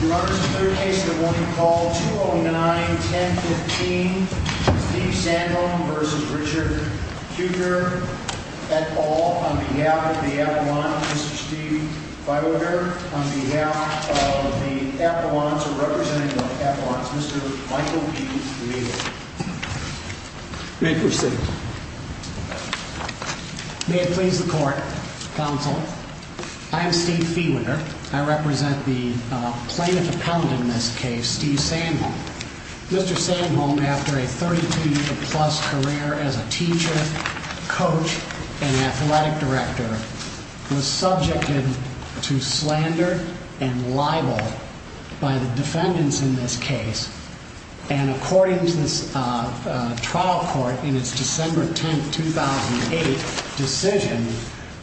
Your Honor, this is the third case of the morning, call 209-1015, Steve Sandholm v. Richard Kuecker, et al., on behalf of the Appellant, Mr. Steve Feuwinder, on behalf of the Appellant, or representing the Appellant, Mr. Michael P. Feuwinder. May it please the Court, Counsel. I am Steve Feuwinder. I represent the plaintiff appellant in this case, Steve Sandholm. Mr. Sandholm, after a 32-year-plus career as a teacher, coach, and athletic director, was subjected to slander and libel by the defendants in this case. And according to the trial court in its December 10, 2008, decision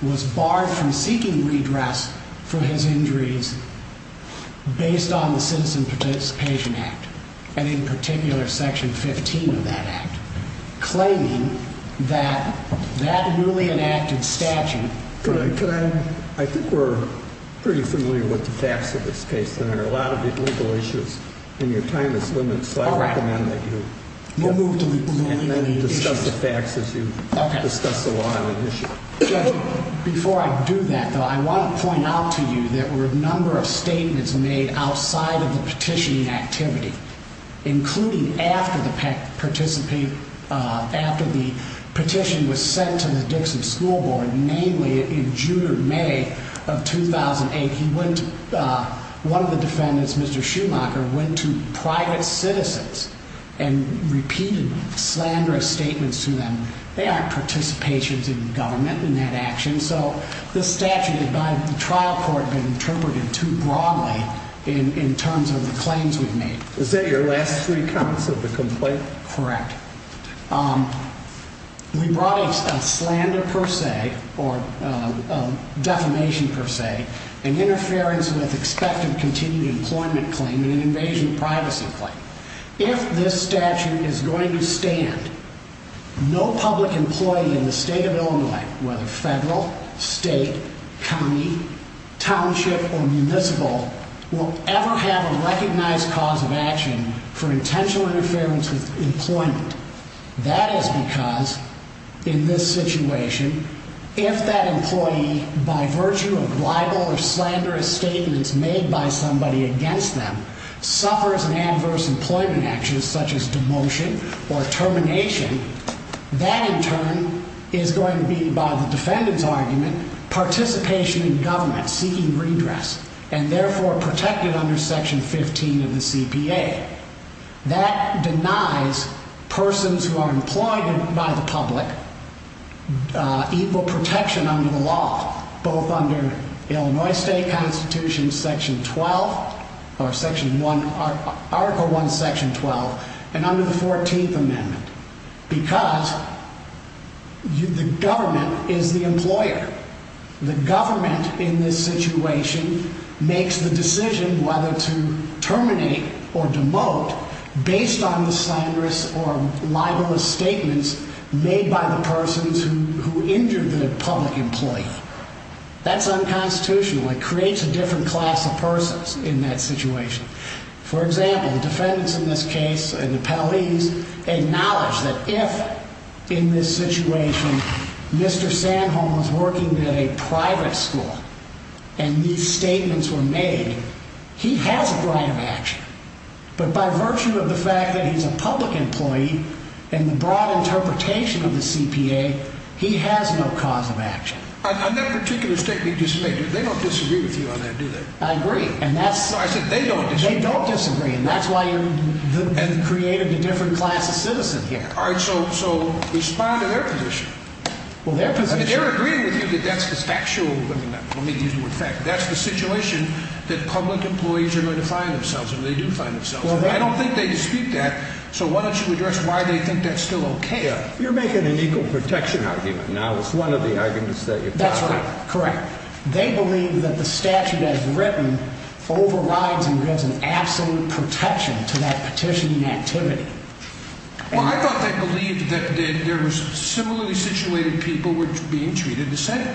was barred from seeking redress for his injuries based on the Citizen Participation Act, and in particular, Section 15 of that act, claiming that that newly enacted statute. I think we're pretty familiar with the facts of this case, Senator. A lot of the legal issues in your time is limited, so I recommend that you discuss the facts as you discuss the law on the issue. Judge, before I do that, though, I want to point out to you there were a number of statements made outside of the petitioning activity, including after the petition was sent to the Dixon School Board, namely in June or May of 2008. One of the defendants, Mr. Schumacher, went to private citizens and repeated slanderous statements to them. They aren't participations in government in that action, so this statute, by the trial court, has been interpreted too broadly in terms of the claims we've made. Is that your last three comments of the complaint? Correct. We brought a slander per se, or defamation per se, an interference with expected continued employment claim and an invasion of privacy claim. If this statute is going to stand, no public employee in the state of Illinois, whether federal, state, county, township, or municipal, will ever have a recognized cause of action for intentional interference with employment. That is because, in this situation, if that employee, by virtue of libel or slanderous statements made by somebody against them, suffers an adverse employment action such as demotion or termination, that in turn is going to be, by the defendant's argument, participation in government, seeking redress, and therefore protected under Section 15 of the CPA. That denies persons who are employed by the public equal protection under the law, both under Illinois State Constitution, Article 1, Section 12, and under the 14th Amendment, because the government is the employer. The government, in this situation, makes the decision whether to terminate or demote based on the slanderous or libelous statements made by the persons who injured the public employee. That's unconstitutional. It creates a different class of persons in that situation. For example, defendants in this case, and the penalties, acknowledge that if, in this situation, Mr. Sanholm is working at a private school, and these statements were made, he has a right of action. But by virtue of the fact that he's a public employee, and the broad interpretation of the CPA, he has no cause of action. On that particular statement you just made, they don't disagree with you on that, do they? I agree. No, I said they don't disagree. They don't disagree, and that's why you've created a different class of citizen here. All right, so respond to their position. Well, their position— I mean, they're agreeing with you that that's the factual—I mean, let me use the word fact. That's the situation that public employees are going to find themselves in, or they do find themselves in. I don't think they dispute that, so why don't you address why they think that's still okay? You're making an equal protection argument. Now, it's one of the arguments that you're talking about. That's right. Correct. They believe that the statute as written overrides and grants an absolute protection to that petitioning activity. Well, I thought they believed that there was similarly situated people being treated the same.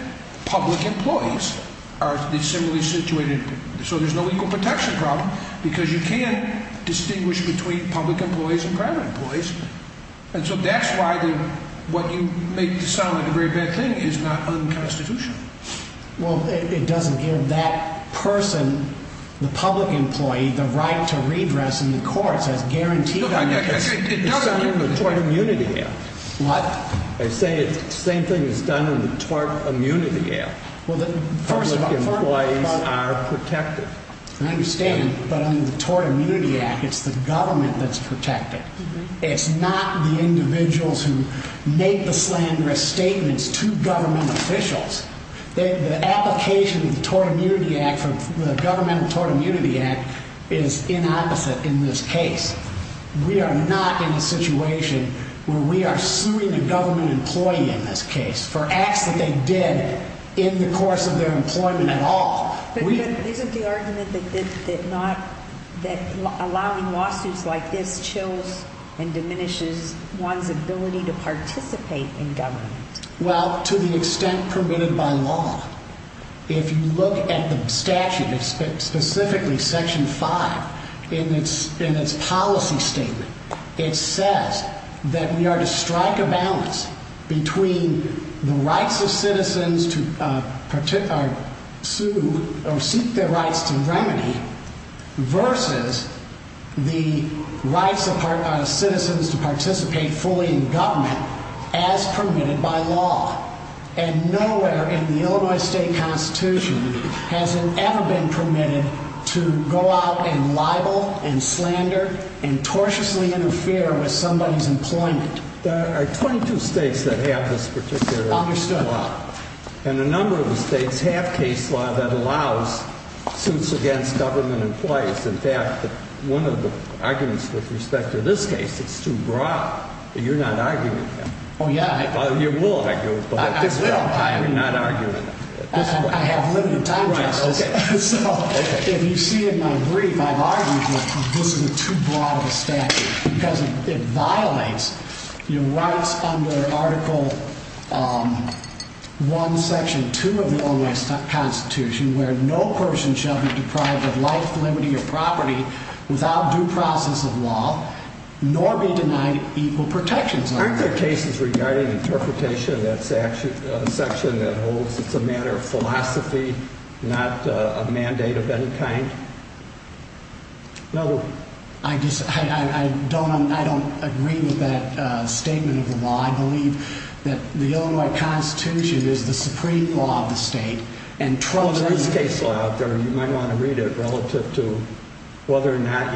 Public employees are similarly situated. So there's no equal protection problem because you can't distinguish between public employees and private employees. And so that's why what you make to sound like a very bad thing is not unconstitutional. Well, it doesn't give that person, the public employee, the right to redress in the courts as guaranteed. It doesn't. It's done in the Tort Immunity Act. What? I say the same thing is done in the Tort Immunity Act. Well, first of all— Public employees are protected. I understand, but under the Tort Immunity Act, it's the government that's protected. It's not the individuals who make the slanderous statements to government officials. The application of the Governmental Tort Immunity Act is inopposite in this case. We are not in a situation where we are suing a government employee in this case for acts that they did in the course of their employment at all. But isn't the argument that allowing lawsuits like this chills and diminishes one's ability to participate in government? Well, to the extent permitted by law, if you look at the statute, specifically Section 5 in its policy statement, it says that we are to strike a balance between the rights of citizens to sue or seek their rights to remedy versus the rights of citizens to participate fully in government as permitted by law. And nowhere in the Illinois State Constitution has it ever been permitted to go out and libel and slander and tortiously interfere with somebody's employment. There are 22 states that have this particular law. Understood. And a number of the states have case law that allows suits against government employees. In fact, one of the arguments with respect to this case, it's too broad, but you're not arguing that. Oh, yeah, I do. You will, in fact. I will. You're not arguing that. I have limited time, Justice. So if you see in my brief, I've argued that this is too broad of a statute because it violates your rights under Article 1, Section 2 of the Illinois Constitution where no person shall be deprived of life, liberty, or property without due process of law, nor be denied equal protections. Aren't there cases regarding interpretation of that section that holds it's a matter of philosophy, not a mandate of any kind? I don't agree with that statement of the law. I believe that the Illinois Constitution is the supreme law of the state. Oh, there is case law out there. You might want to read it relative to whether or not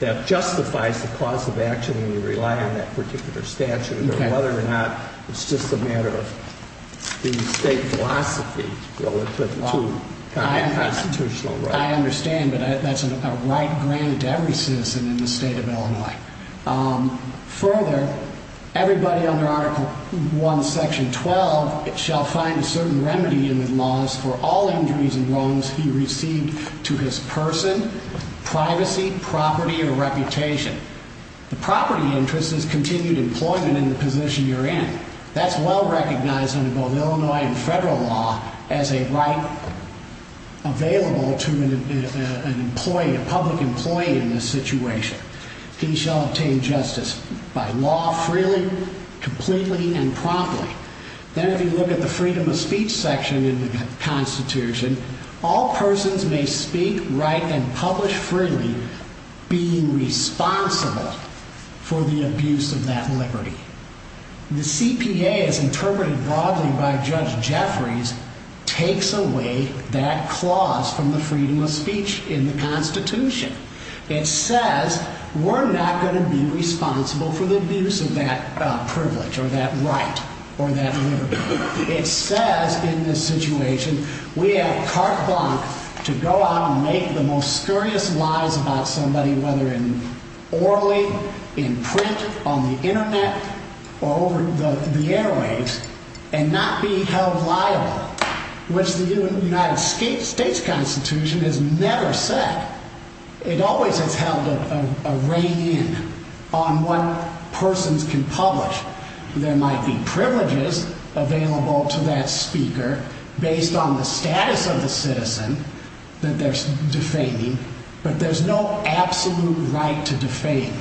that justifies the cause of action when you rely on that particular statute or whether or not it's just a matter of the state philosophy relative to constitutional rights. I understand, but that's a right granted to every citizen in the state of Illinois. Further, everybody under Article 1, Section 12 shall find a certain remedy in the laws for all injuries and wrongs he received to his person, privacy, property, or reputation. The property interest is continued employment in the position you're in. That's well recognized under both Illinois and federal law as a right available to an employee, a public employee in this situation. He shall obtain justice by law freely, completely, and promptly. Then if you look at the freedom of speech section in the Constitution, all persons may speak, write, and publish freely being responsible for the abuse of that liberty. The CPA, as interpreted broadly by Judge Jeffries, takes away that clause from the freedom of speech in the Constitution. It says we're not going to be responsible for the abuse of that privilege or that right or that liberty. It says in this situation we have carte blanche to go out and make the most scurrious lies about somebody, whether orally, in print, on the internet, or over the airwaves, and not be held liable, which the United States Constitution has never said. It always has held a rein in on what persons can publish. There might be privileges available to that speaker based on the status of the citizen that they're defaming, but there's no absolute right to defame.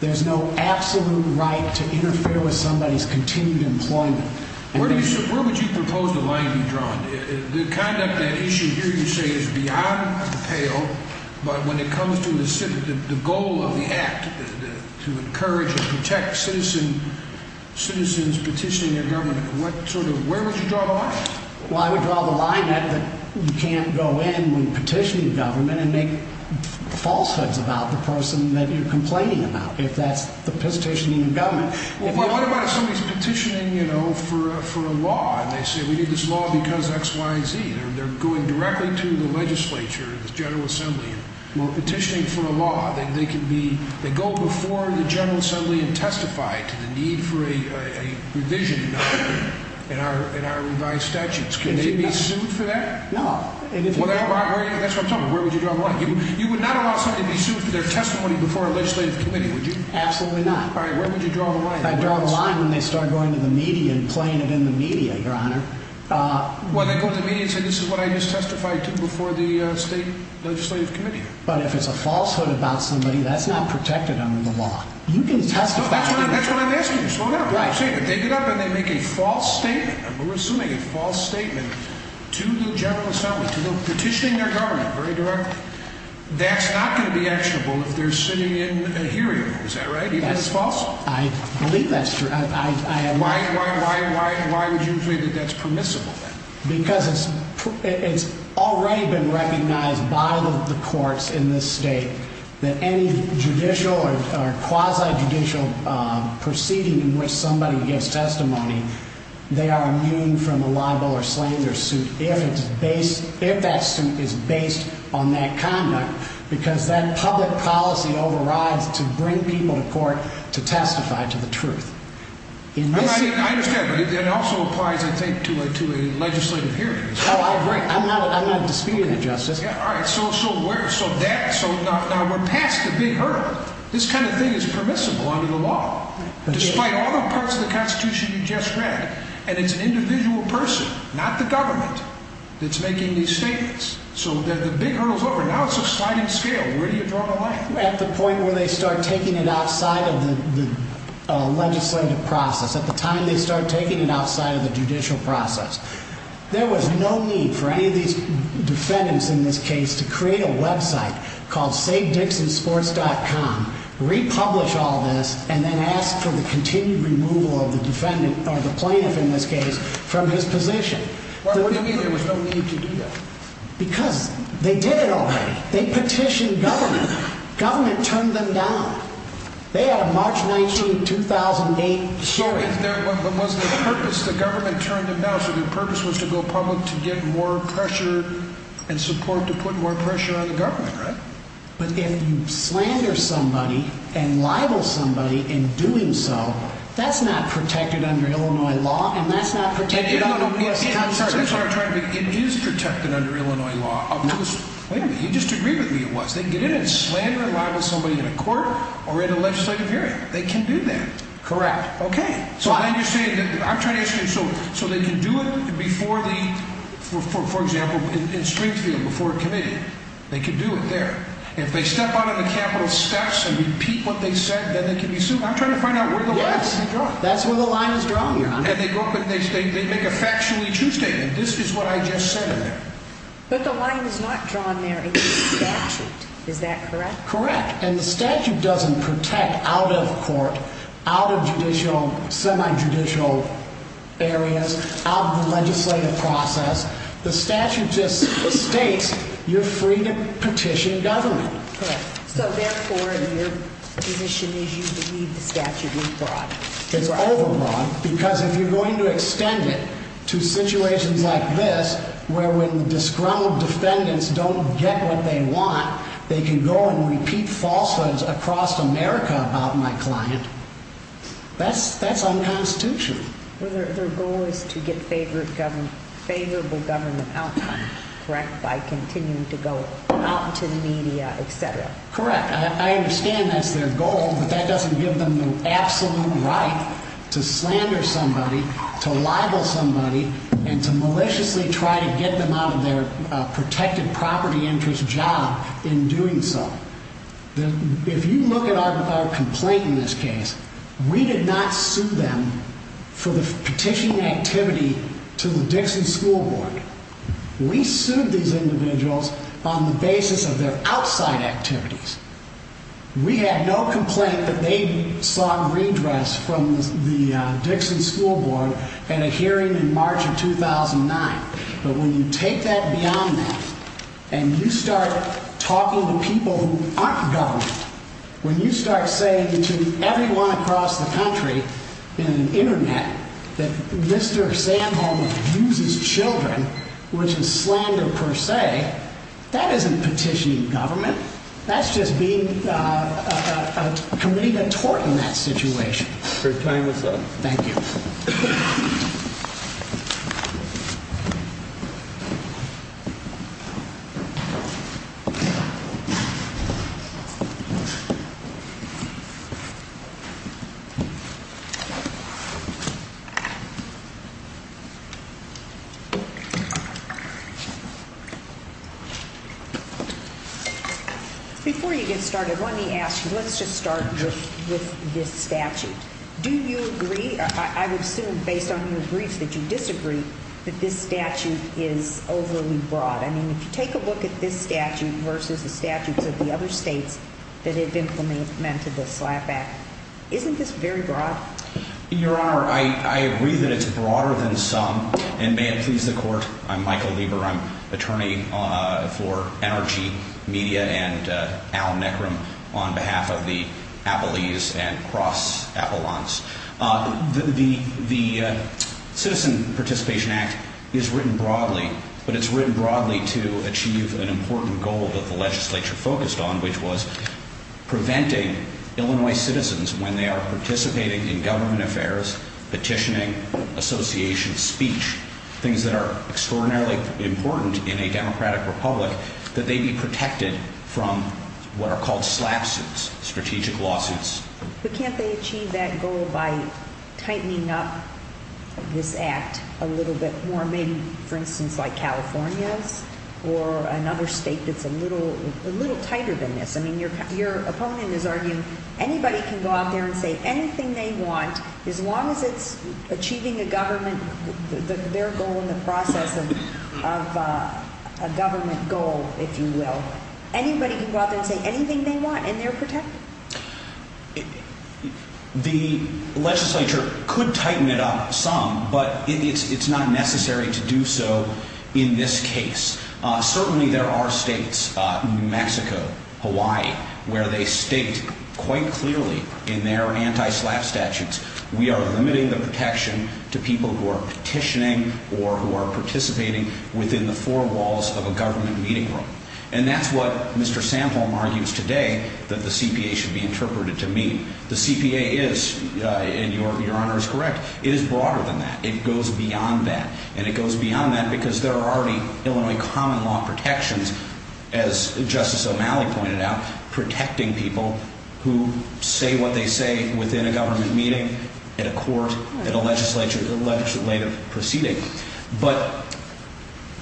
There's no absolute right to interfere with somebody's continued employment. Where would you propose the line be drawn? The conduct at issue here, you say, is beyond the pale, but when it comes to the goal of the act to encourage and protect citizens petitioning their government, where would you draw the line? Well, I would draw the line at that you can't go in when petitioning government and make falsehoods about the person that you're complaining about, if that's the petitioning government. Well, what about if somebody's petitioning, you know, for a law, and they say, we need this law because X, Y, and Z. They're going directly to the legislature, the General Assembly. Well, petitioning for a law, they go before the General Assembly and testify to the need for a revision in our revised statutes. Can they be sued for that? No. That's what I'm talking about. Where would you draw the line? You would not allow somebody to be sued for their testimony before a legislative committee, would you? Absolutely not. All right, where would you draw the line? I'd draw the line when they start going to the media and playing it in the media, Your Honor. When they go to the media and say, this is what I just testified to before the state legislative committee. But if it's a falsehood about somebody, that's not protected under the law. You can testify. No, that's what I'm asking you. Slow down. Right. I'm saying that they get up and they make a false statement. We're assuming a false statement to the General Assembly, to them petitioning their government very directly. That's not going to be actionable if they're sitting in a hearing. Is that right? Even if it's false? I believe that's true. Why would you say that that's permissible? Because it's already been recognized by the courts in this state that any judicial or quasi-judicial proceeding in which somebody gives testimony, they are immune from the liable or slander suit if that suit is based on that conduct, because that public policy overrides to bring people to court to testify to the truth. I understand. That also applies, I think, to a legislative hearing. I'm not disputing that, Justice. All right. So we're past the big hurdle. This kind of thing is permissible under the law. Despite all the parts of the Constitution you just read. And it's an individual person, not the government, that's making these statements. So the big hurdle's over. Now it's a sliding scale. Where do you draw the line? At the point where they start taking it outside of the legislative process. At the time they start taking it outside of the judicial process. There was no need for any of these defendants in this case to create a website called savedicksinsports.com, republish all this, and then ask for the continued removal of the defendant, or the plaintiff in this case, from his position. What do you mean there was no need to do that? Because they did it already. They petitioned government. Government turned them down. They had a March 19, 2008 hearing. But was the purpose the government turned them down? So the purpose was to go public to get more pressure and support to put more pressure on the government, right? But if you slander somebody and libel somebody in doing so, that's not protected under Illinois law, and that's not protected under U.S. Constitution. It is protected under Illinois law. Wait a minute. You just agreed with me it was. They can get in and slander and libel somebody in a court or in a legislative hearing. They can do that. Correct. Okay. So then you're saying, I'm trying to understand. So they can do it before the, for example, in Springfield, before a committee. They can do it there. If they step out on the Capitol steps and repeat what they said, then they can be sued. I'm trying to find out where the line is drawn. Yes. That's where the line is drawn here. And they go up and they make a factually true statement. This is what I just said in there. But the line is not drawn there. It's the statute. Is that correct? Correct. And the statute doesn't protect out of court, out of judicial, semi-judicial areas, out of the legislative process. The statute just states you're free to petition government. Correct. So therefore, your position is you believe the statute is broad. It's over-broad because if you're going to extend it to situations like this, where when disgruntled defendants don't get what they want, they can go and repeat falsehoods across America about my client, that's unconstitutional. Well, their goal is to get favorable government outcomes, correct, by continuing to go out into the media, et cetera. Correct. I understand that's their goal, but that doesn't give them the absolute right to slander somebody, to libel somebody, and to maliciously try to get them out of their protected property interest job in doing so. If you look at our complaint in this case, we did not sue them for the petitioning activity to the Dixon School Board. We sued these individuals on the basis of their outside activities. We had no complaint that they sought redress from the Dixon School Board at a hearing in March of 2009. But when you take that beyond that and you start talking to people who aren't government, when you start saying to everyone across the country in the Internet that Mr. Sandholm abuses children, which is slander per se, that isn't petitioning government. That's just being a committee to thwart in that situation. Your time is up. Thank you. Thank you. Before you get started, let me ask you, let's just start with this statute. Do you agree, I would assume based on your briefs, that you disagree that this statute is overly broad? I mean, if you take a look at this statute versus the statutes of the other states that have implemented the SLAPP Act, isn't this very broad? Your Honor, I agree that it's broader than some. And may it please the Court, I'm Michael Lieber. I'm attorney for NRG Media and Al Neckram on behalf of the Appellees and Cross Appellants. The Citizen Participation Act is written broadly, but it's written broadly to achieve an important goal that the legislature focused on, which was preventing Illinois citizens when they are participating in government affairs, petitioning, association, speech, things that are extraordinarily important in a democratic republic, that they be protected from what are called SLAPP suits, strategic lawsuits. But can't they achieve that goal by tightening up this act a little bit more? Maybe, for instance, like California's or another state that's a little tighter than this? I mean, your opponent is arguing anybody can go out there and say anything they want, as long as it's achieving a government, their goal in the process of a government goal, if you will. Anybody can go out there and say anything they want, and they're protected. The legislature could tighten it up some, but it's not necessary to do so in this case. Certainly there are states, New Mexico, Hawaii, where they state quite clearly in their anti-SLAPP statutes, we are limiting the protection to people who are petitioning or who are participating within the four walls of a government meeting room. And that's what Mr. Samholm argues today that the CPA should be interpreted to mean. The CPA is, and your Honor is correct, it is broader than that. It goes beyond that, and it goes beyond that because there are already Illinois common law protections, as Justice O'Malley pointed out, protecting people who say what they say within a government meeting, at a court, at a legislative proceeding. But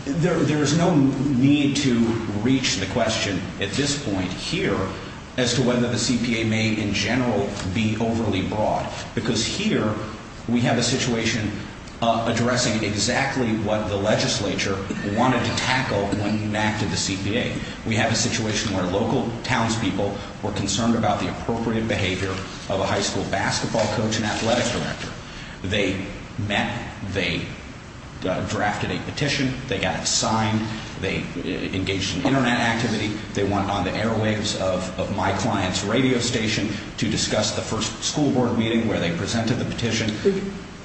there is no need to reach the question at this point here as to whether the CPA may, in general, be overly broad. Because here we have a situation addressing exactly what the legislature wanted to tackle when you enacted the CPA. We have a situation where local townspeople were concerned about the appropriate behavior of a high school basketball coach and athletics director. They met, they drafted a petition, they got it signed, they engaged in Internet activity, they went on the airwaves of my client's radio station to discuss the first school board meeting where they presented the petition.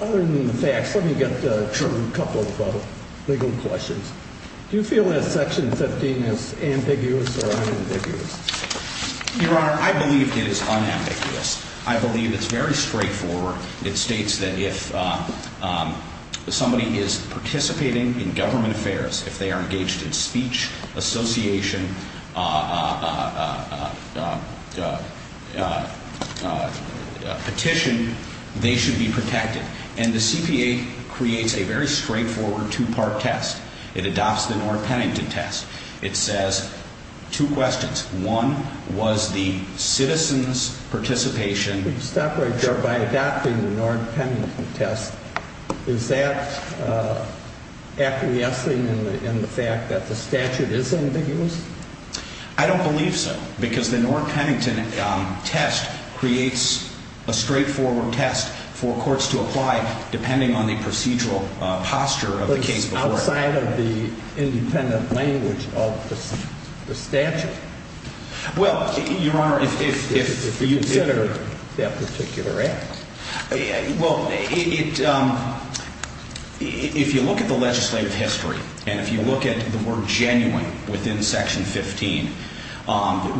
Other than the facts, let me get to a couple of legal questions. Do you feel that Section 15 is ambiguous or unambiguous? Your Honor, I believe it is unambiguous. I believe it's very straightforward. It states that if somebody is participating in government affairs, if they are engaged in speech, association, petition, they should be protected. And the CPA creates a very straightforward two-part test. It adopts the North Pennington test. It says two questions. One was the citizen's participation. Stop right there. By adopting the North Pennington test, is that acquiescing in the fact that the statute is ambiguous? I don't believe so because the North Pennington test creates a straightforward test for courts to apply depending on the procedural posture of the case before it. But it's outside of the independent language of the statute. Well, Your Honor, if you consider that particular act, well, if you look at the legislative history and if you look at the word genuine within Section 15,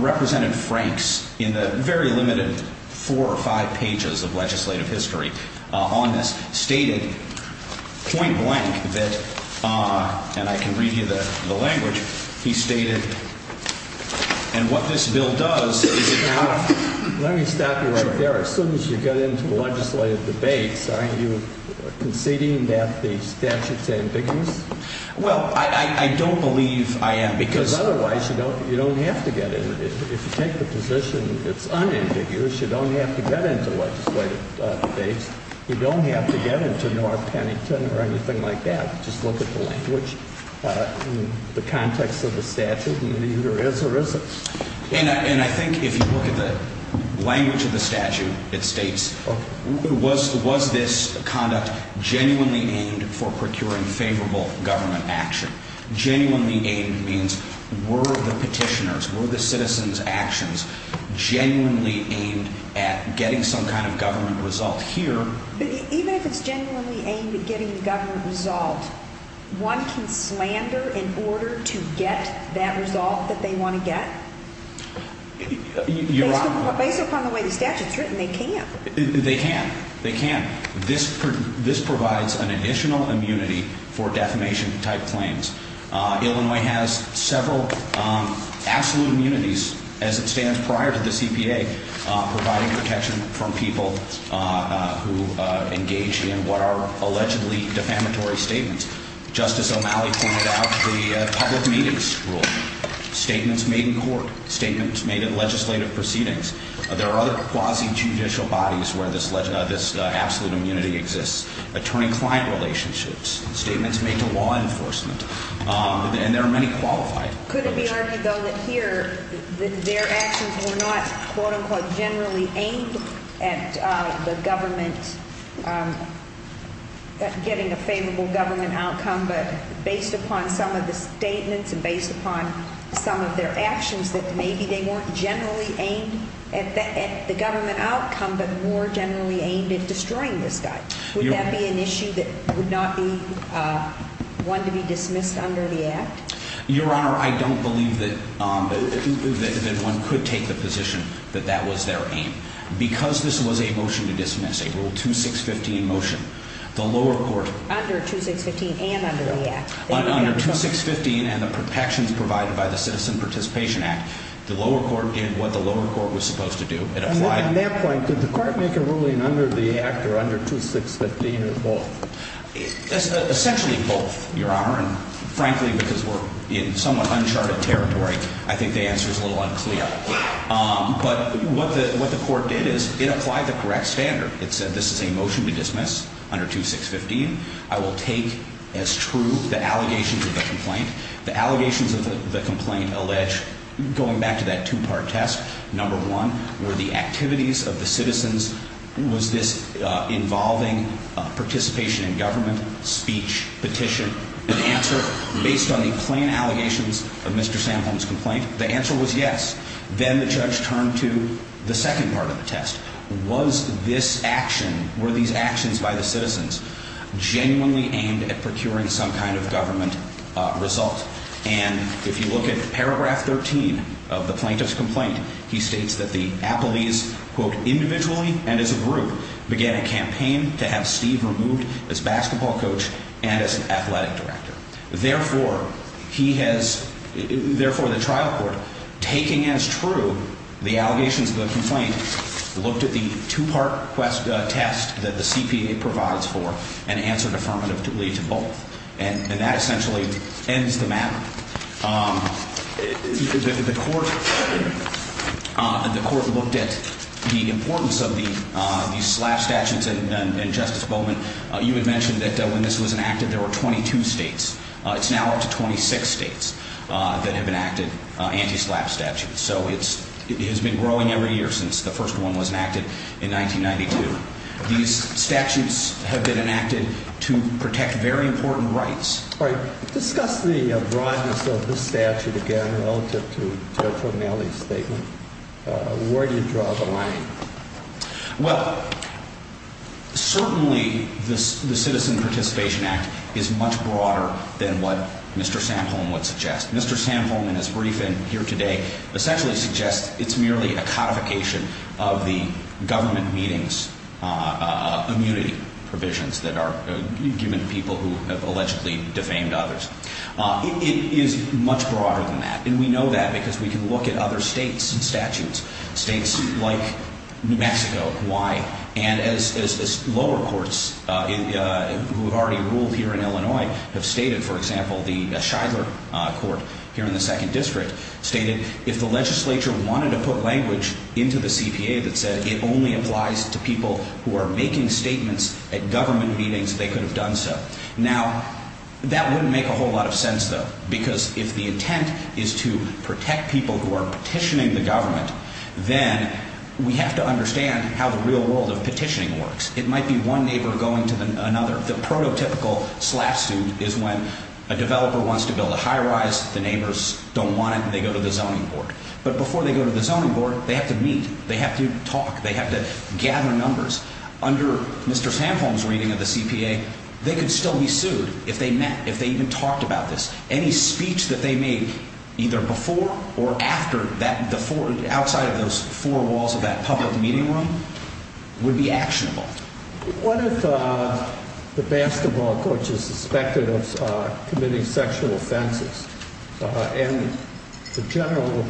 Representative Franks in the very limited four or five pages of legislative history on this stated point blank that, and I can read you the language, he stated, and what this bill does is it – Your Honor, let me stop you right there. As soon as you get into legislative debates, are you conceding that the statute is ambiguous? Well, I don't believe I am because – Because otherwise you don't have to get into it. If you take the position it's unambiguous, you don't have to get into legislative debates. You don't have to get into North Pennington or anything like that. Just look at the language. In the context of the statute, it either is or isn't. And I think if you look at the language of the statute, it states was this conduct genuinely aimed for procuring favorable government action? Genuinely aimed means were the petitioners, were the citizens' actions genuinely aimed at getting some kind of government result here? Even if it's genuinely aimed at getting the government result, one can slander in order to get that result that they want to get? Your Honor – Based upon the way the statute's written, they can't. They can't. They can't. This provides an additional immunity for defamation-type claims. Illinois has several absolute immunities as it stands prior to the CPA providing protection from people who engage in what are allegedly defamatory statements. Justice O'Malley pointed out the public meetings rule. Statements made in court, statements made in legislative proceedings. There are other quasi-judicial bodies where this absolute immunity exists. Attorney-client relationships. Statements made to law enforcement. And there are many qualified. Could it be argued, though, that here their actions were not, quote-unquote, generally aimed at the government getting a favorable government outcome, but based upon some of the statements and based upon some of their actions that maybe they weren't generally aimed at the government outcome but more generally aimed at destroying this guy? Would that be an issue that would not be one to be dismissed under the Act? Your Honor, I don't believe that one could take the position that that was their aim. Because this was a motion to dismiss, a Rule 2615 motion, the lower court – Under 2615 and under the Act. Under 2615 and the protections provided by the Citizen Participation Act, the lower court did what the lower court was supposed to do. At that point, did the court make a ruling under the Act or under 2615 or both? Essentially both, Your Honor. And frankly, because we're in somewhat uncharted territory, I think the answer is a little unclear. But what the court did is it applied the correct standard. It said this is a motion to dismiss under 2615. I will take as true the allegations of the complaint. The allegations of the complaint allege, going back to that two-part test, number one, were the activities of the citizens. Was this involving participation in government, speech, petition? The answer, based on the plain allegations of Mr. Samholm's complaint, the answer was yes. Then the judge turned to the second part of the test. Was this action, were these actions by the citizens genuinely aimed at procuring some kind of government result? And if you look at paragraph 13 of the plaintiff's complaint, he states that the appellees, quote, individually and as a group, began a campaign to have Steve removed as basketball coach and as an athletic director. Therefore, he has, therefore the trial court, taking as true the allegations of the complaint, looked at the two-part test that the CPA provides for and answered affirmatively to both. And that essentially ends the matter. The court looked at the importance of the SLAPP statutes. And, Justice Bowman, you had mentioned that when this was enacted, there were 22 states. It's now up to 26 states that have enacted anti-SLAPP statutes. So it has been growing every year since the first one was enacted in 1992. These statutes have been enacted to protect very important rights. All right. Discuss the broadness of this statute again relative to Terry Fugnelli's statement. Where do you draw the line? Well, certainly the Citizen Participation Act is much broader than what Mr. Samholm would suggest. Mr. Samholm in his briefing here today essentially suggests it's merely a codification of the government meetings immunity provisions that are given to people who have allegedly defamed others. It is much broader than that. And we know that because we can look at other states' statutes, states like New Mexico, Hawaii. And as lower courts who have already ruled here in Illinois have stated, for example, the Shidler Court here in the Second District stated, if the legislature wanted to put language into the CPA that said it only applies to people who are making statements at government meetings, they could have done so. Now, that wouldn't make a whole lot of sense, though, because if the intent is to protect people who are petitioning the government, then we have to understand how the real world of petitioning works. It might be one neighbor going to another. The prototypical slap suit is when a developer wants to build a high-rise, the neighbors don't want it, and they go to the zoning board. But before they go to the zoning board, they have to meet. They have to talk. They have to gather numbers. Under Mr. Samholm's reading of the CPA, they could still be sued if they met, if they even talked about this. Any speech that they make either before or after, outside of those four walls of that public meeting room, would be actionable. What if the basketball coach is suspected of committing sexual offenses? And the general,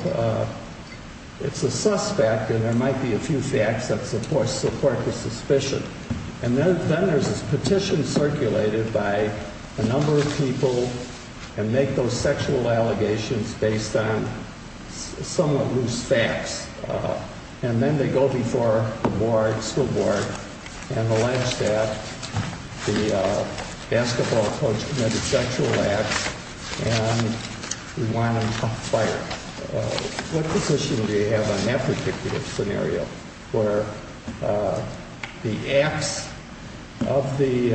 it's a suspect, and there might be a few facts that support the suspicion. And then there's this petition circulated by a number of people, and make those sexual allegations based on somewhat loose facts. And then they go before the school board and the ledge staff, the basketball coach committed sexual acts, and we want him fired. What position do you have on that particular scenario, where the acts of the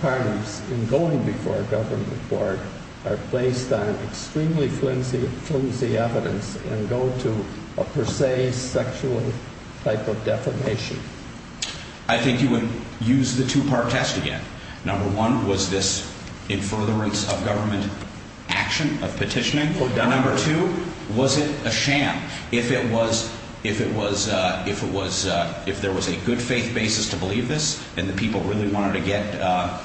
parties in going before a government board are based on extremely flimsy evidence and go to a per se sexual type of defamation? I think you would use the two-part test again. Number one, was this in furtherance of government action, of petitioning? And number two, was it a sham? If it was, if there was a good faith basis to believe this, and the people really wanted to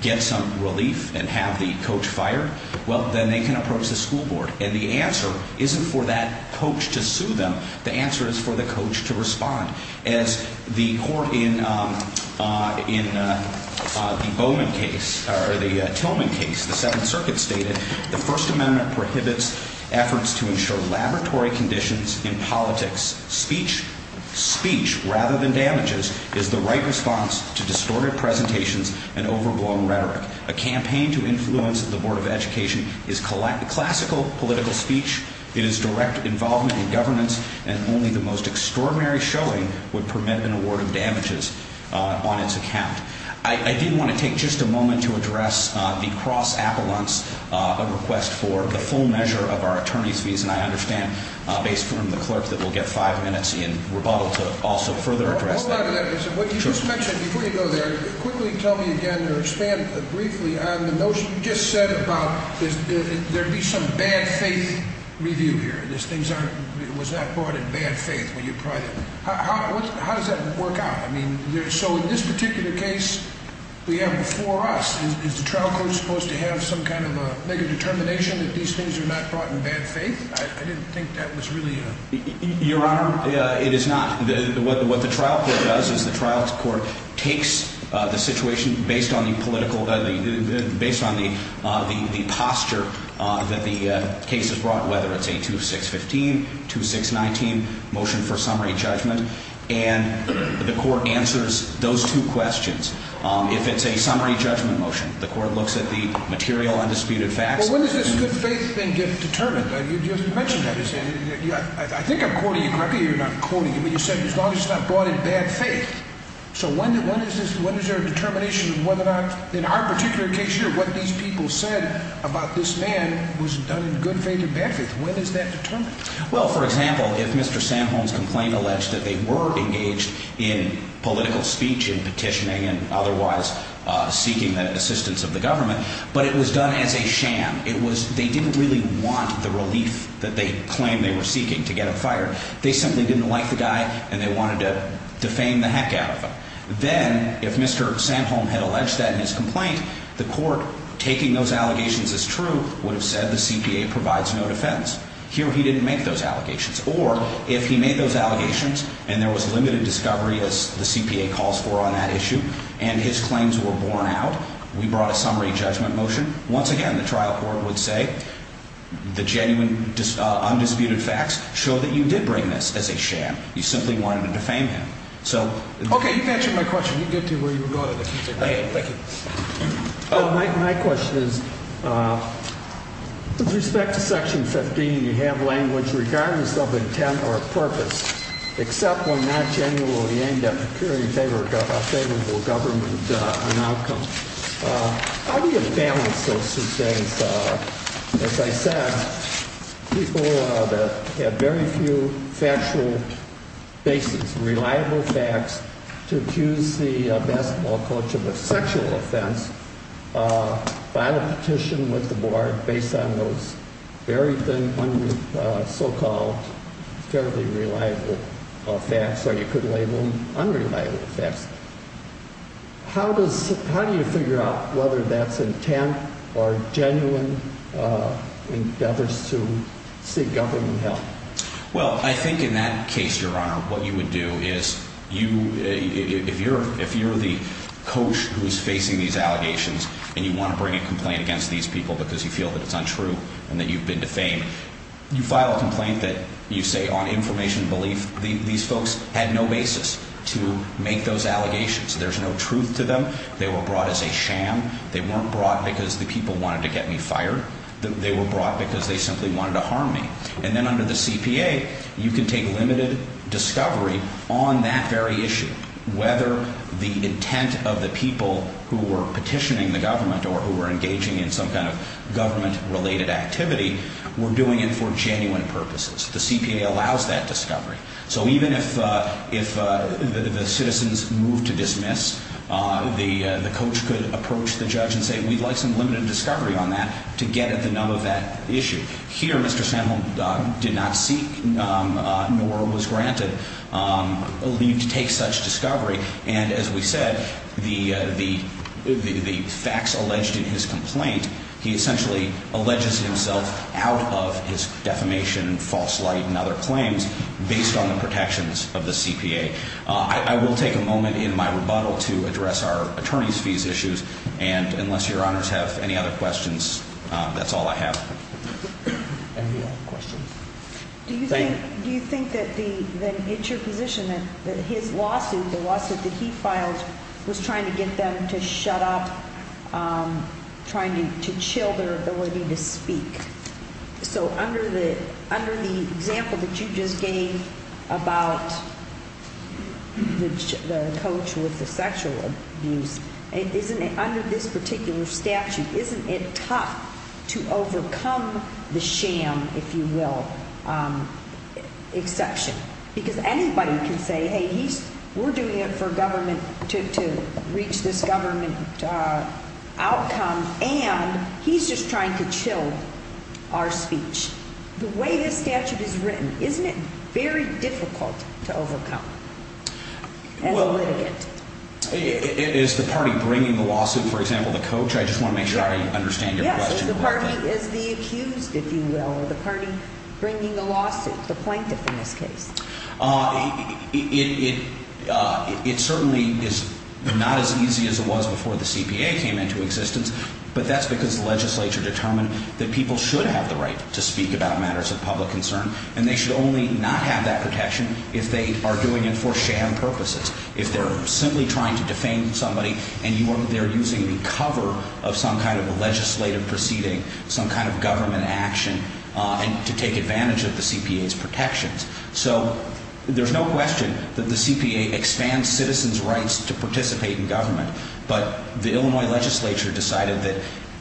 get some relief and have the coach fired, well, then they can approach the school board. And the answer isn't for that coach to sue them. The answer is for the coach to respond. As the court in the Bowman case, or the Tillman case, the Seventh Circuit stated, the First Amendment prohibits efforts to ensure laboratory conditions in politics. Speech, rather than damages, is the right response to distorted presentations and overblown rhetoric. A campaign to influence the Board of Education is classical political speech. It is direct involvement in governance, and only the most extraordinary showing would permit an award of damages on its account. I did want to take just a moment to address the cross-appellants, a request for the full measure of our attorney's fees. And I understand, based on the clerk, that we'll get five minutes in rebuttal to also further address that. Hold on to that. What you just mentioned, before you go there, quickly tell me again, or expand briefly on the notion you just said about, there'd be some bad faith review here. Was that brought in bad faith? How does that work out? I mean, so in this particular case, we have before us, is the trial court supposed to have some kind of a, make a determination that these things are not brought in bad faith? I didn't think that was really a... Your Honor, it is not. What the trial court does is the trial court takes the situation based on the political, based on the posture that the case has brought, whether it's a 2-6-15, 2-6-19 motion for summary judgment, and the court answers those two questions. If it's a summary judgment motion, the court looks at the material undisputed facts. Well, when does this good faith thing get determined? You just mentioned that. I think I'm quoting you correctly here. You're not quoting me. You said, as long as it's not brought in bad faith. So when is there a determination of whether or not, in our particular case here, what these people said about this man was done in good faith or bad faith? When is that determined? Well, for example, if Mr. Sanholm's complaint alleged that they were engaged in political speech and petitioning and otherwise seeking the assistance of the government, but it was done as a sham. It was, they didn't really want the relief that they claimed they were seeking to get him fired. They simply didn't like the guy, and they wanted to defame the heck out of him. Then, if Mr. Sanholm had alleged that in his complaint, the court, taking those allegations as true, would have said the CPA provides no defense. Here, he didn't make those allegations. Or, if he made those allegations and there was limited discovery, as the CPA calls for on that issue, and his claims were borne out, we brought a summary judgment motion. Once again, the trial court would say the genuine, undisputed facts show that you did bring this as a sham. You simply wanted to defame him. Okay, you've answered my question. You get to where you were going with it. Thank you. My question is, with respect to Section 15, you have language regardless of intent or purpose, except when not genuinely aimed at procuring a favorable government outcome. How do you balance those two things? As I said, people have very few factual basis, reliable facts, to accuse the basketball coach of a sexual offense by a petition with the board based on those very thin, so-called fairly reliable facts, or you could label them unreliable facts. How do you figure out whether that's intent or genuine endeavors to seek government help? Well, I think in that case, Your Honor, what you would do is, if you're the coach who's facing these allegations and you want to bring a complaint against these people because you feel that it's untrue and that you've been defamed, you file a complaint that you say on information belief these folks had no basis to make those allegations. There's no truth to them. They were brought as a sham. They weren't brought because the people wanted to get me fired. They were brought because they simply wanted to harm me. And then under the CPA, you can take limited discovery on that very issue, whether the intent of the people who were petitioning the government or who were engaging in some kind of government-related activity were doing it for genuine purposes. The CPA allows that discovery. So even if the citizens move to dismiss, the coach could approach the judge and say, we'd like some limited discovery on that to get at the nub of that issue. Here, Mr. Sandholm did not seek nor was granted leave to take such discovery. And as we said, the facts alleged in his complaint, he essentially alleges himself out of his defamation and false light and other claims based on the protections of the CPA. I will take a moment in my rebuttal to address our attorney's fees issues. And unless your honors have any other questions, that's all I have. Any other questions? Do you think that it's your position that his lawsuit, the lawsuit that he filed, was trying to get them to shut up, trying to chill their ability to speak? So under the example that you just gave about the coach with the sexual abuse, under this particular statute, isn't it tough to overcome the sham, if you will, exception? Because anybody can say, hey, we're doing it for government, to reach this government outcome, and he's just trying to chill our speech. The way this statute is written, isn't it very difficult to overcome as a litigant? Is the party bringing the lawsuit, for example, the coach? I just want to make sure I understand your question. Yes, the party is the accused, if you will, or the party bringing the lawsuit, the plaintiff in this case. It certainly is not as easy as it was before the CPA came into existence, but that's because the legislature determined that people should have the right to speak about matters of public concern, and they should only not have that protection if they are doing it for sham purposes, if they're simply trying to defame somebody and they're using the cover of some kind of legislative proceeding, some kind of government action to take advantage of the CPA's protections. So there's no question that the CPA expands citizens' rights to participate in government, but the Illinois legislature decided that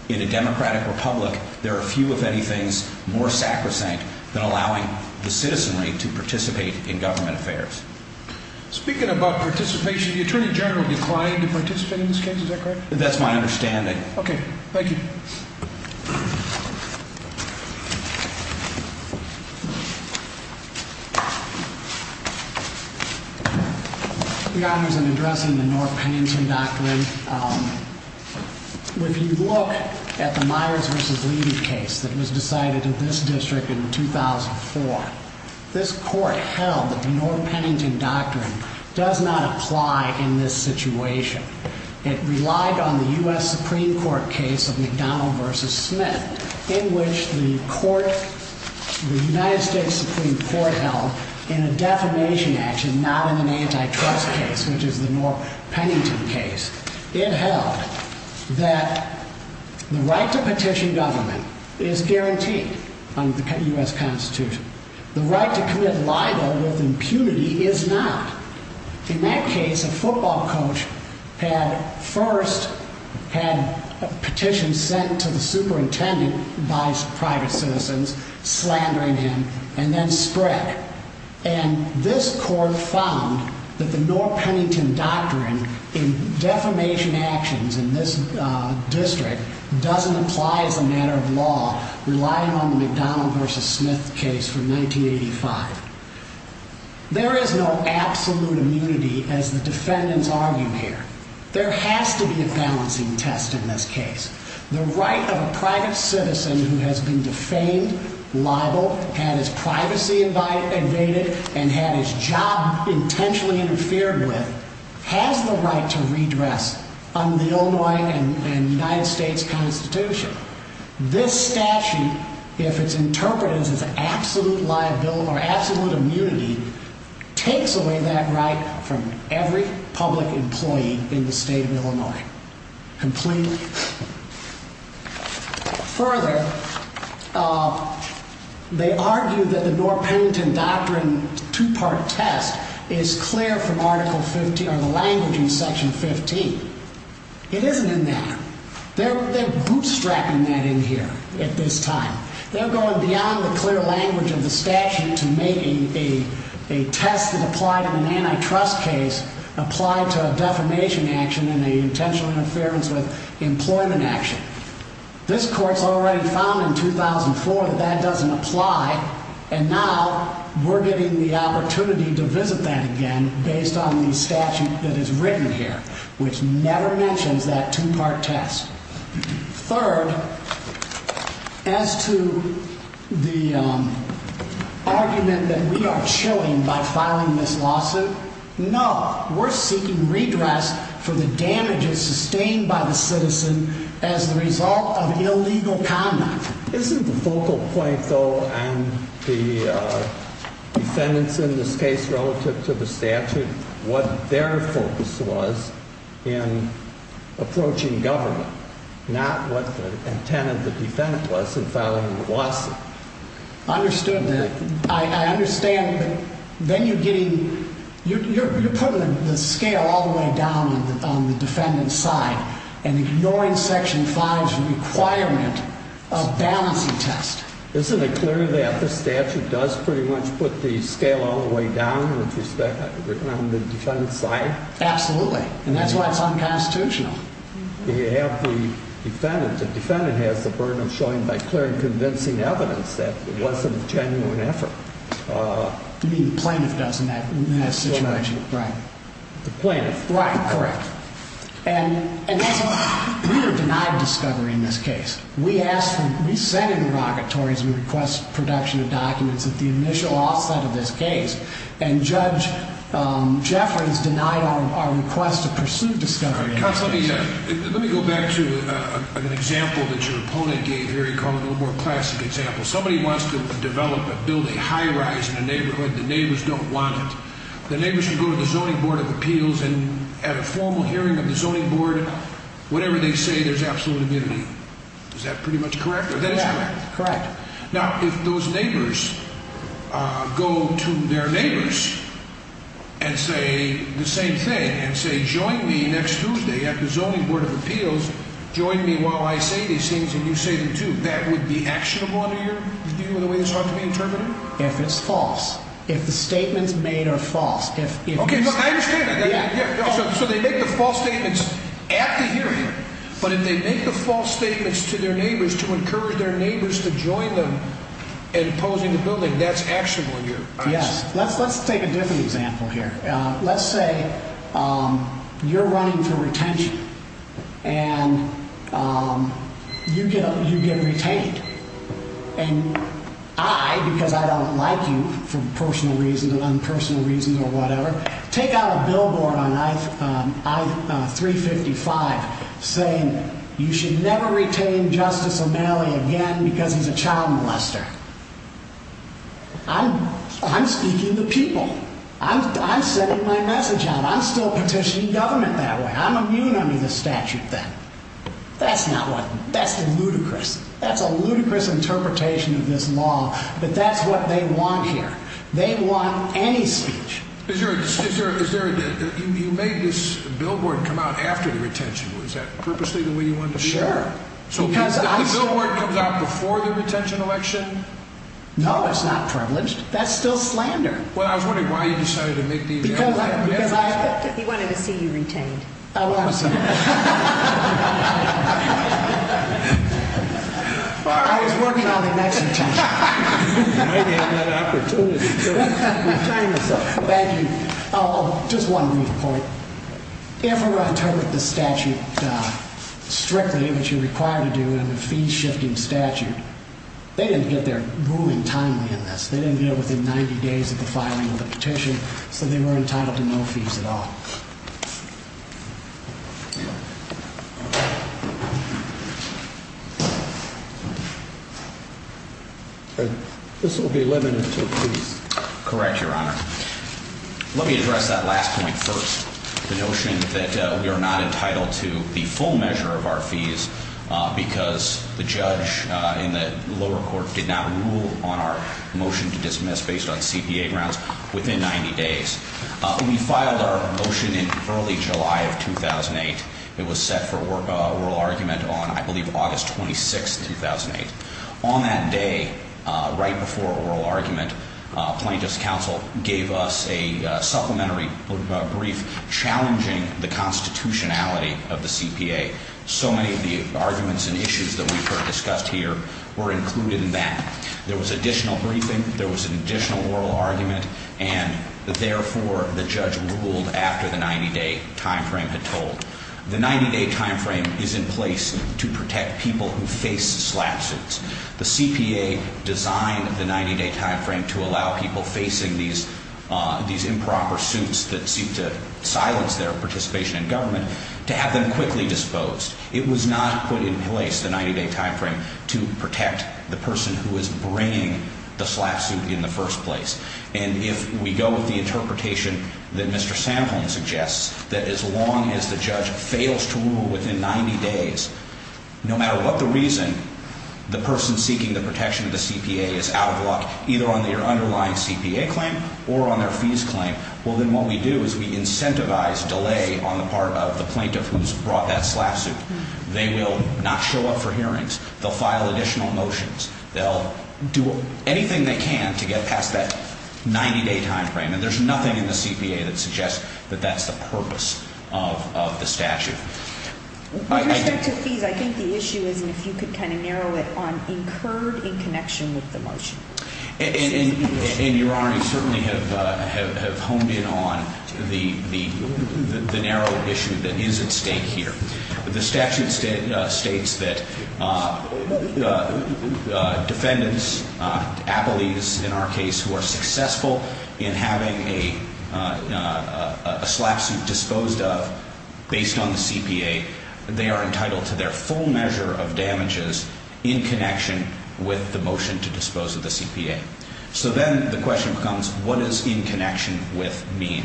in a democratic republic, there are few, if anything, more sacrosanct than allowing the citizenry to participate in government affairs. Speaking about participation, the Attorney General declined to participate in this case, is that correct? That's my understanding. Okay, thank you. Your Honors, in addressing the Norr-Pennington Doctrine, if you look at the Myers v. Levy case that was decided in this district in 2004, this Court held that the Norr-Pennington Doctrine does not apply in this situation. It relied on the U.S. Supreme Court case of McDonnell v. Smith, in which the United States Supreme Court held in a defamation action, not in an antitrust case, which is the Norr-Pennington case, it held that the right to petition government is guaranteed under the U.S. Constitution. The right to commit libel with impunity is not. In that case, a football coach had first had a petition sent to the superintendent by private citizens, slandering him, and then spread. And this Court found that the Norr-Pennington Doctrine in defamation actions in this district doesn't apply as a matter of law, relying on the McDonnell v. Smith case from 1985. There is no absolute immunity, as the defendants argue here. There has to be a balancing test in this case. The right of a private citizen who has been defamed, libeled, had his privacy invaded, and had his job intentionally interfered with, has the right to redress under the Illinois and United States Constitution. This statute, if it's interpreted as absolute liability or absolute immunity, takes away that right from every public employee in the state of Illinois. Completely. Further, they argue that the Norr-Pennington Doctrine two-part test is clear from the language in Section 15. It isn't in that. They're bootstrapping that in here at this time. They're going beyond the clear language of the statute to make a test that applied in an antitrust case apply to a defamation action and an intentional interference with employment action. This Court's already found in 2004 that that doesn't apply, and now we're getting the opportunity to visit that again based on the statute that is written here, which never mentions that two-part test. Third, as to the argument that we are chilling by filing this lawsuit, no, we're seeking redress for the damages sustained by the citizen as the result of illegal conduct. Isn't the focal point, though, on the defendants in this case relative to the statute what their focus was in approaching government, not what the intent of the defendant was in filing the lawsuit? I understood that. I understand, but then you're getting, you're putting the scale all the way down on the defendant's side and ignoring Section 5's requirement of balancing test. Isn't it clear that the statute does pretty much put the scale all the way down with respect on the defendant's side? Absolutely, and that's why it's unconstitutional. You have the defendant. The defendant has the burden of showing by clear and convincing evidence that it wasn't a genuine effort. You mean the plaintiff does in that situation. Right. The plaintiff. Right, correct. And we are denied discovery in this case. We ask for, we send inrogatories and request production of documents at the initial offset of this case, and Judge Jeffrey has denied our request to pursue discovery in this case. Counsel, let me go back to an example that your opponent gave here. He called it a more classic example. Somebody wants to develop, build a high-rise in a neighborhood. The neighbors don't want it. The neighbors should go to the Zoning Board of Appeals and at a formal hearing of the Zoning Board, whatever they say, there's absolute immunity. Is that pretty much correct? That is correct. Correct. Now, if those neighbors go to their neighbors and say the same thing and say join me next Tuesday at the Zoning Board of Appeals, join me while I say these things and you say them too, that would be actionable under your view in a way that's hard to be interpreted? If it's false. If the statements made are false. Okay, I understand that. So they make the false statements at the hearing, but if they make the false statements to their neighbors to encourage their neighbors to join them in opposing the building, that's actionable here. Yes. Let's take a different example here. Let's say you're running for retention and you get retained. And I, because I don't like you for personal reasons and unpersonal reasons or whatever, take out a billboard on I-355 saying you should never retain Justice O'Malley again because he's a child molester. I'm speaking to people. I'm sending my message out. I'm still petitioning government that way. I'm immune under the statute then. That's not what, that's ludicrous. That's a ludicrous interpretation of this law, but that's what they want here. They want any speech. Is there a, you made this billboard come out after the retention. Is that purposely the way you want it to be? Sure. So the billboard comes out before the retention election? No, it's not privileged. That's still slander. Well, I was wondering why you decided to make the objection. Because I, because I. He wanted to see you retained. I want to see you retained. I was working on the next retention. You might have had that opportunity. Thank you. Oh, just one brief point. If we were to interpret the statute strictly, which you're required to do in a fee-shifting statute, they didn't get their ruling timely in this. They didn't get it within 90 days of the filing of the petition, so they were entitled to no fees at all. This will be limited to fees. Correct, Your Honor. Let me address that last point first. The notion that we are not entitled to the full measure of our fees because the judge in the lower court did not rule on our motion to dismiss based on CPA grounds within 90 days. We filed our motion in early July of 2008. It was set for oral argument on, I believe, August 26, 2008. On that day, right before oral argument, plaintiff's counsel gave us a supplementary brief challenging the constitutionality of the CPA. So many of the arguments and issues that we've discussed here were included in that. There was additional briefing. There was an additional oral argument, and therefore the judge ruled after the 90-day time frame had told. The 90-day time frame is in place to protect people who face slap suits. The CPA designed the 90-day time frame to allow people facing these improper suits that seek to silence their participation in government to have them quickly disposed. It was not put in place, the 90-day time frame, to protect the person who is bringing the slap suit in the first place. And if we go with the interpretation that Mr. Samholm suggests, that as long as the judge fails to rule within 90 days, no matter what the reason, the person seeking the protection of the CPA is out of luck either on their underlying CPA claim or on their fees claim, well then what we do is we incentivize delay on the part of the plaintiff who's brought that slap suit. They will not show up for hearings. They'll file additional motions. They'll do anything they can to get past that 90-day time frame, and there's nothing in the CPA that suggests that that's the purpose of the statute. With respect to fees, I think the issue is if you could kind of narrow it on incurred in connection with the motion. And Your Honor, you certainly have honed in on the narrow issue that is at stake here. The statute states that defendants, appellees in our case, who are successful in having a slap suit disposed of based on the CPA, they are entitled to their full measure of damages in connection with the motion to dispose of the CPA. So then the question becomes what does in connection with mean?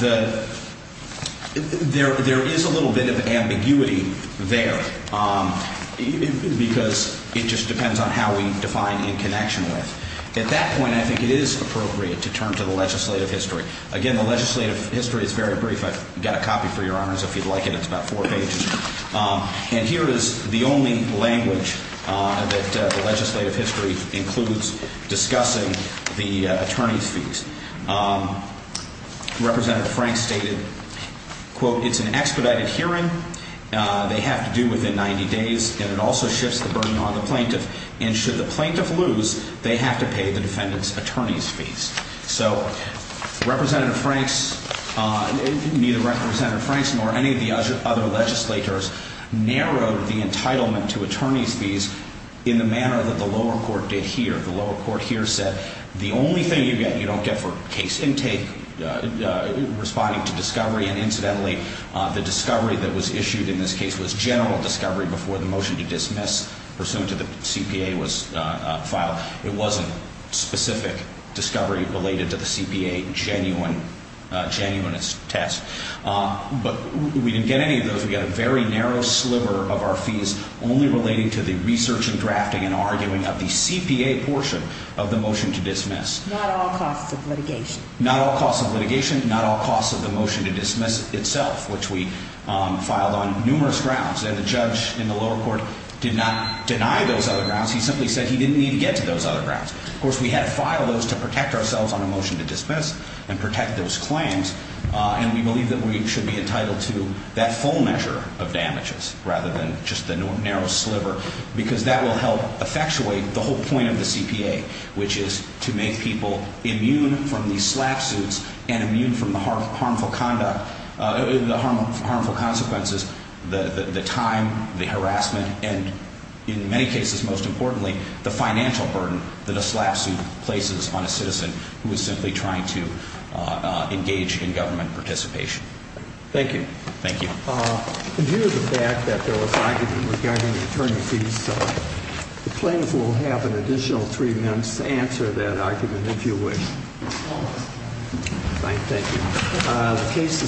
There is a little bit of ambiguity there because it just depends on how we define in connection with. At that point, I think it is appropriate to turn to the legislative history. Again, the legislative history is very brief. I've got a copy for Your Honors if you'd like it. It's about four pages. And here is the only language that the legislative history includes discussing the attorney's fees. Representative Frank stated, quote, it's an expedited hearing. They have to do within 90 days, and it also shifts the burden on the plaintiff. And should the plaintiff lose, they have to pay the defendant's attorney's fees. So Representative Franks, neither Representative Franks nor any of the other legislators, narrowed the entitlement to attorney's fees in the manner that the lower court did here. The lower court here said the only thing you don't get for case intake, responding to discovery, and incidentally the discovery that was issued in this case was general discovery before the motion to dismiss pursuant to the CPA was filed. It wasn't specific discovery related to the CPA, genuine test. But we didn't get any of those. We got a very narrow sliver of our fees only relating to the research and drafting and arguing of the CPA portion of the motion to dismiss. Not all costs of litigation. Not all costs of litigation, not all costs of the motion to dismiss itself, which we filed on numerous grounds. And the judge in the lower court did not deny those other grounds. He simply said he didn't need to get to those other grounds. Of course, we had to file those to protect ourselves on a motion to dismiss and protect those claims. And we believe that we should be entitled to that full measure of damages rather than just the narrow sliver, because that will help effectuate the whole point of the CPA, which is to make people immune from these slap suits and immune from the harmful conduct, the harmful consequences, the time, the harassment, and in many cases, most importantly, the financial burden that a slap suit places on a citizen who is simply trying to engage in government participation. Thank you. Thank you. In view of the fact that there was argument regarding the attorney fees, the plaintiff will have an additional three minutes to answer that argument, if you wish. All right. Thank you.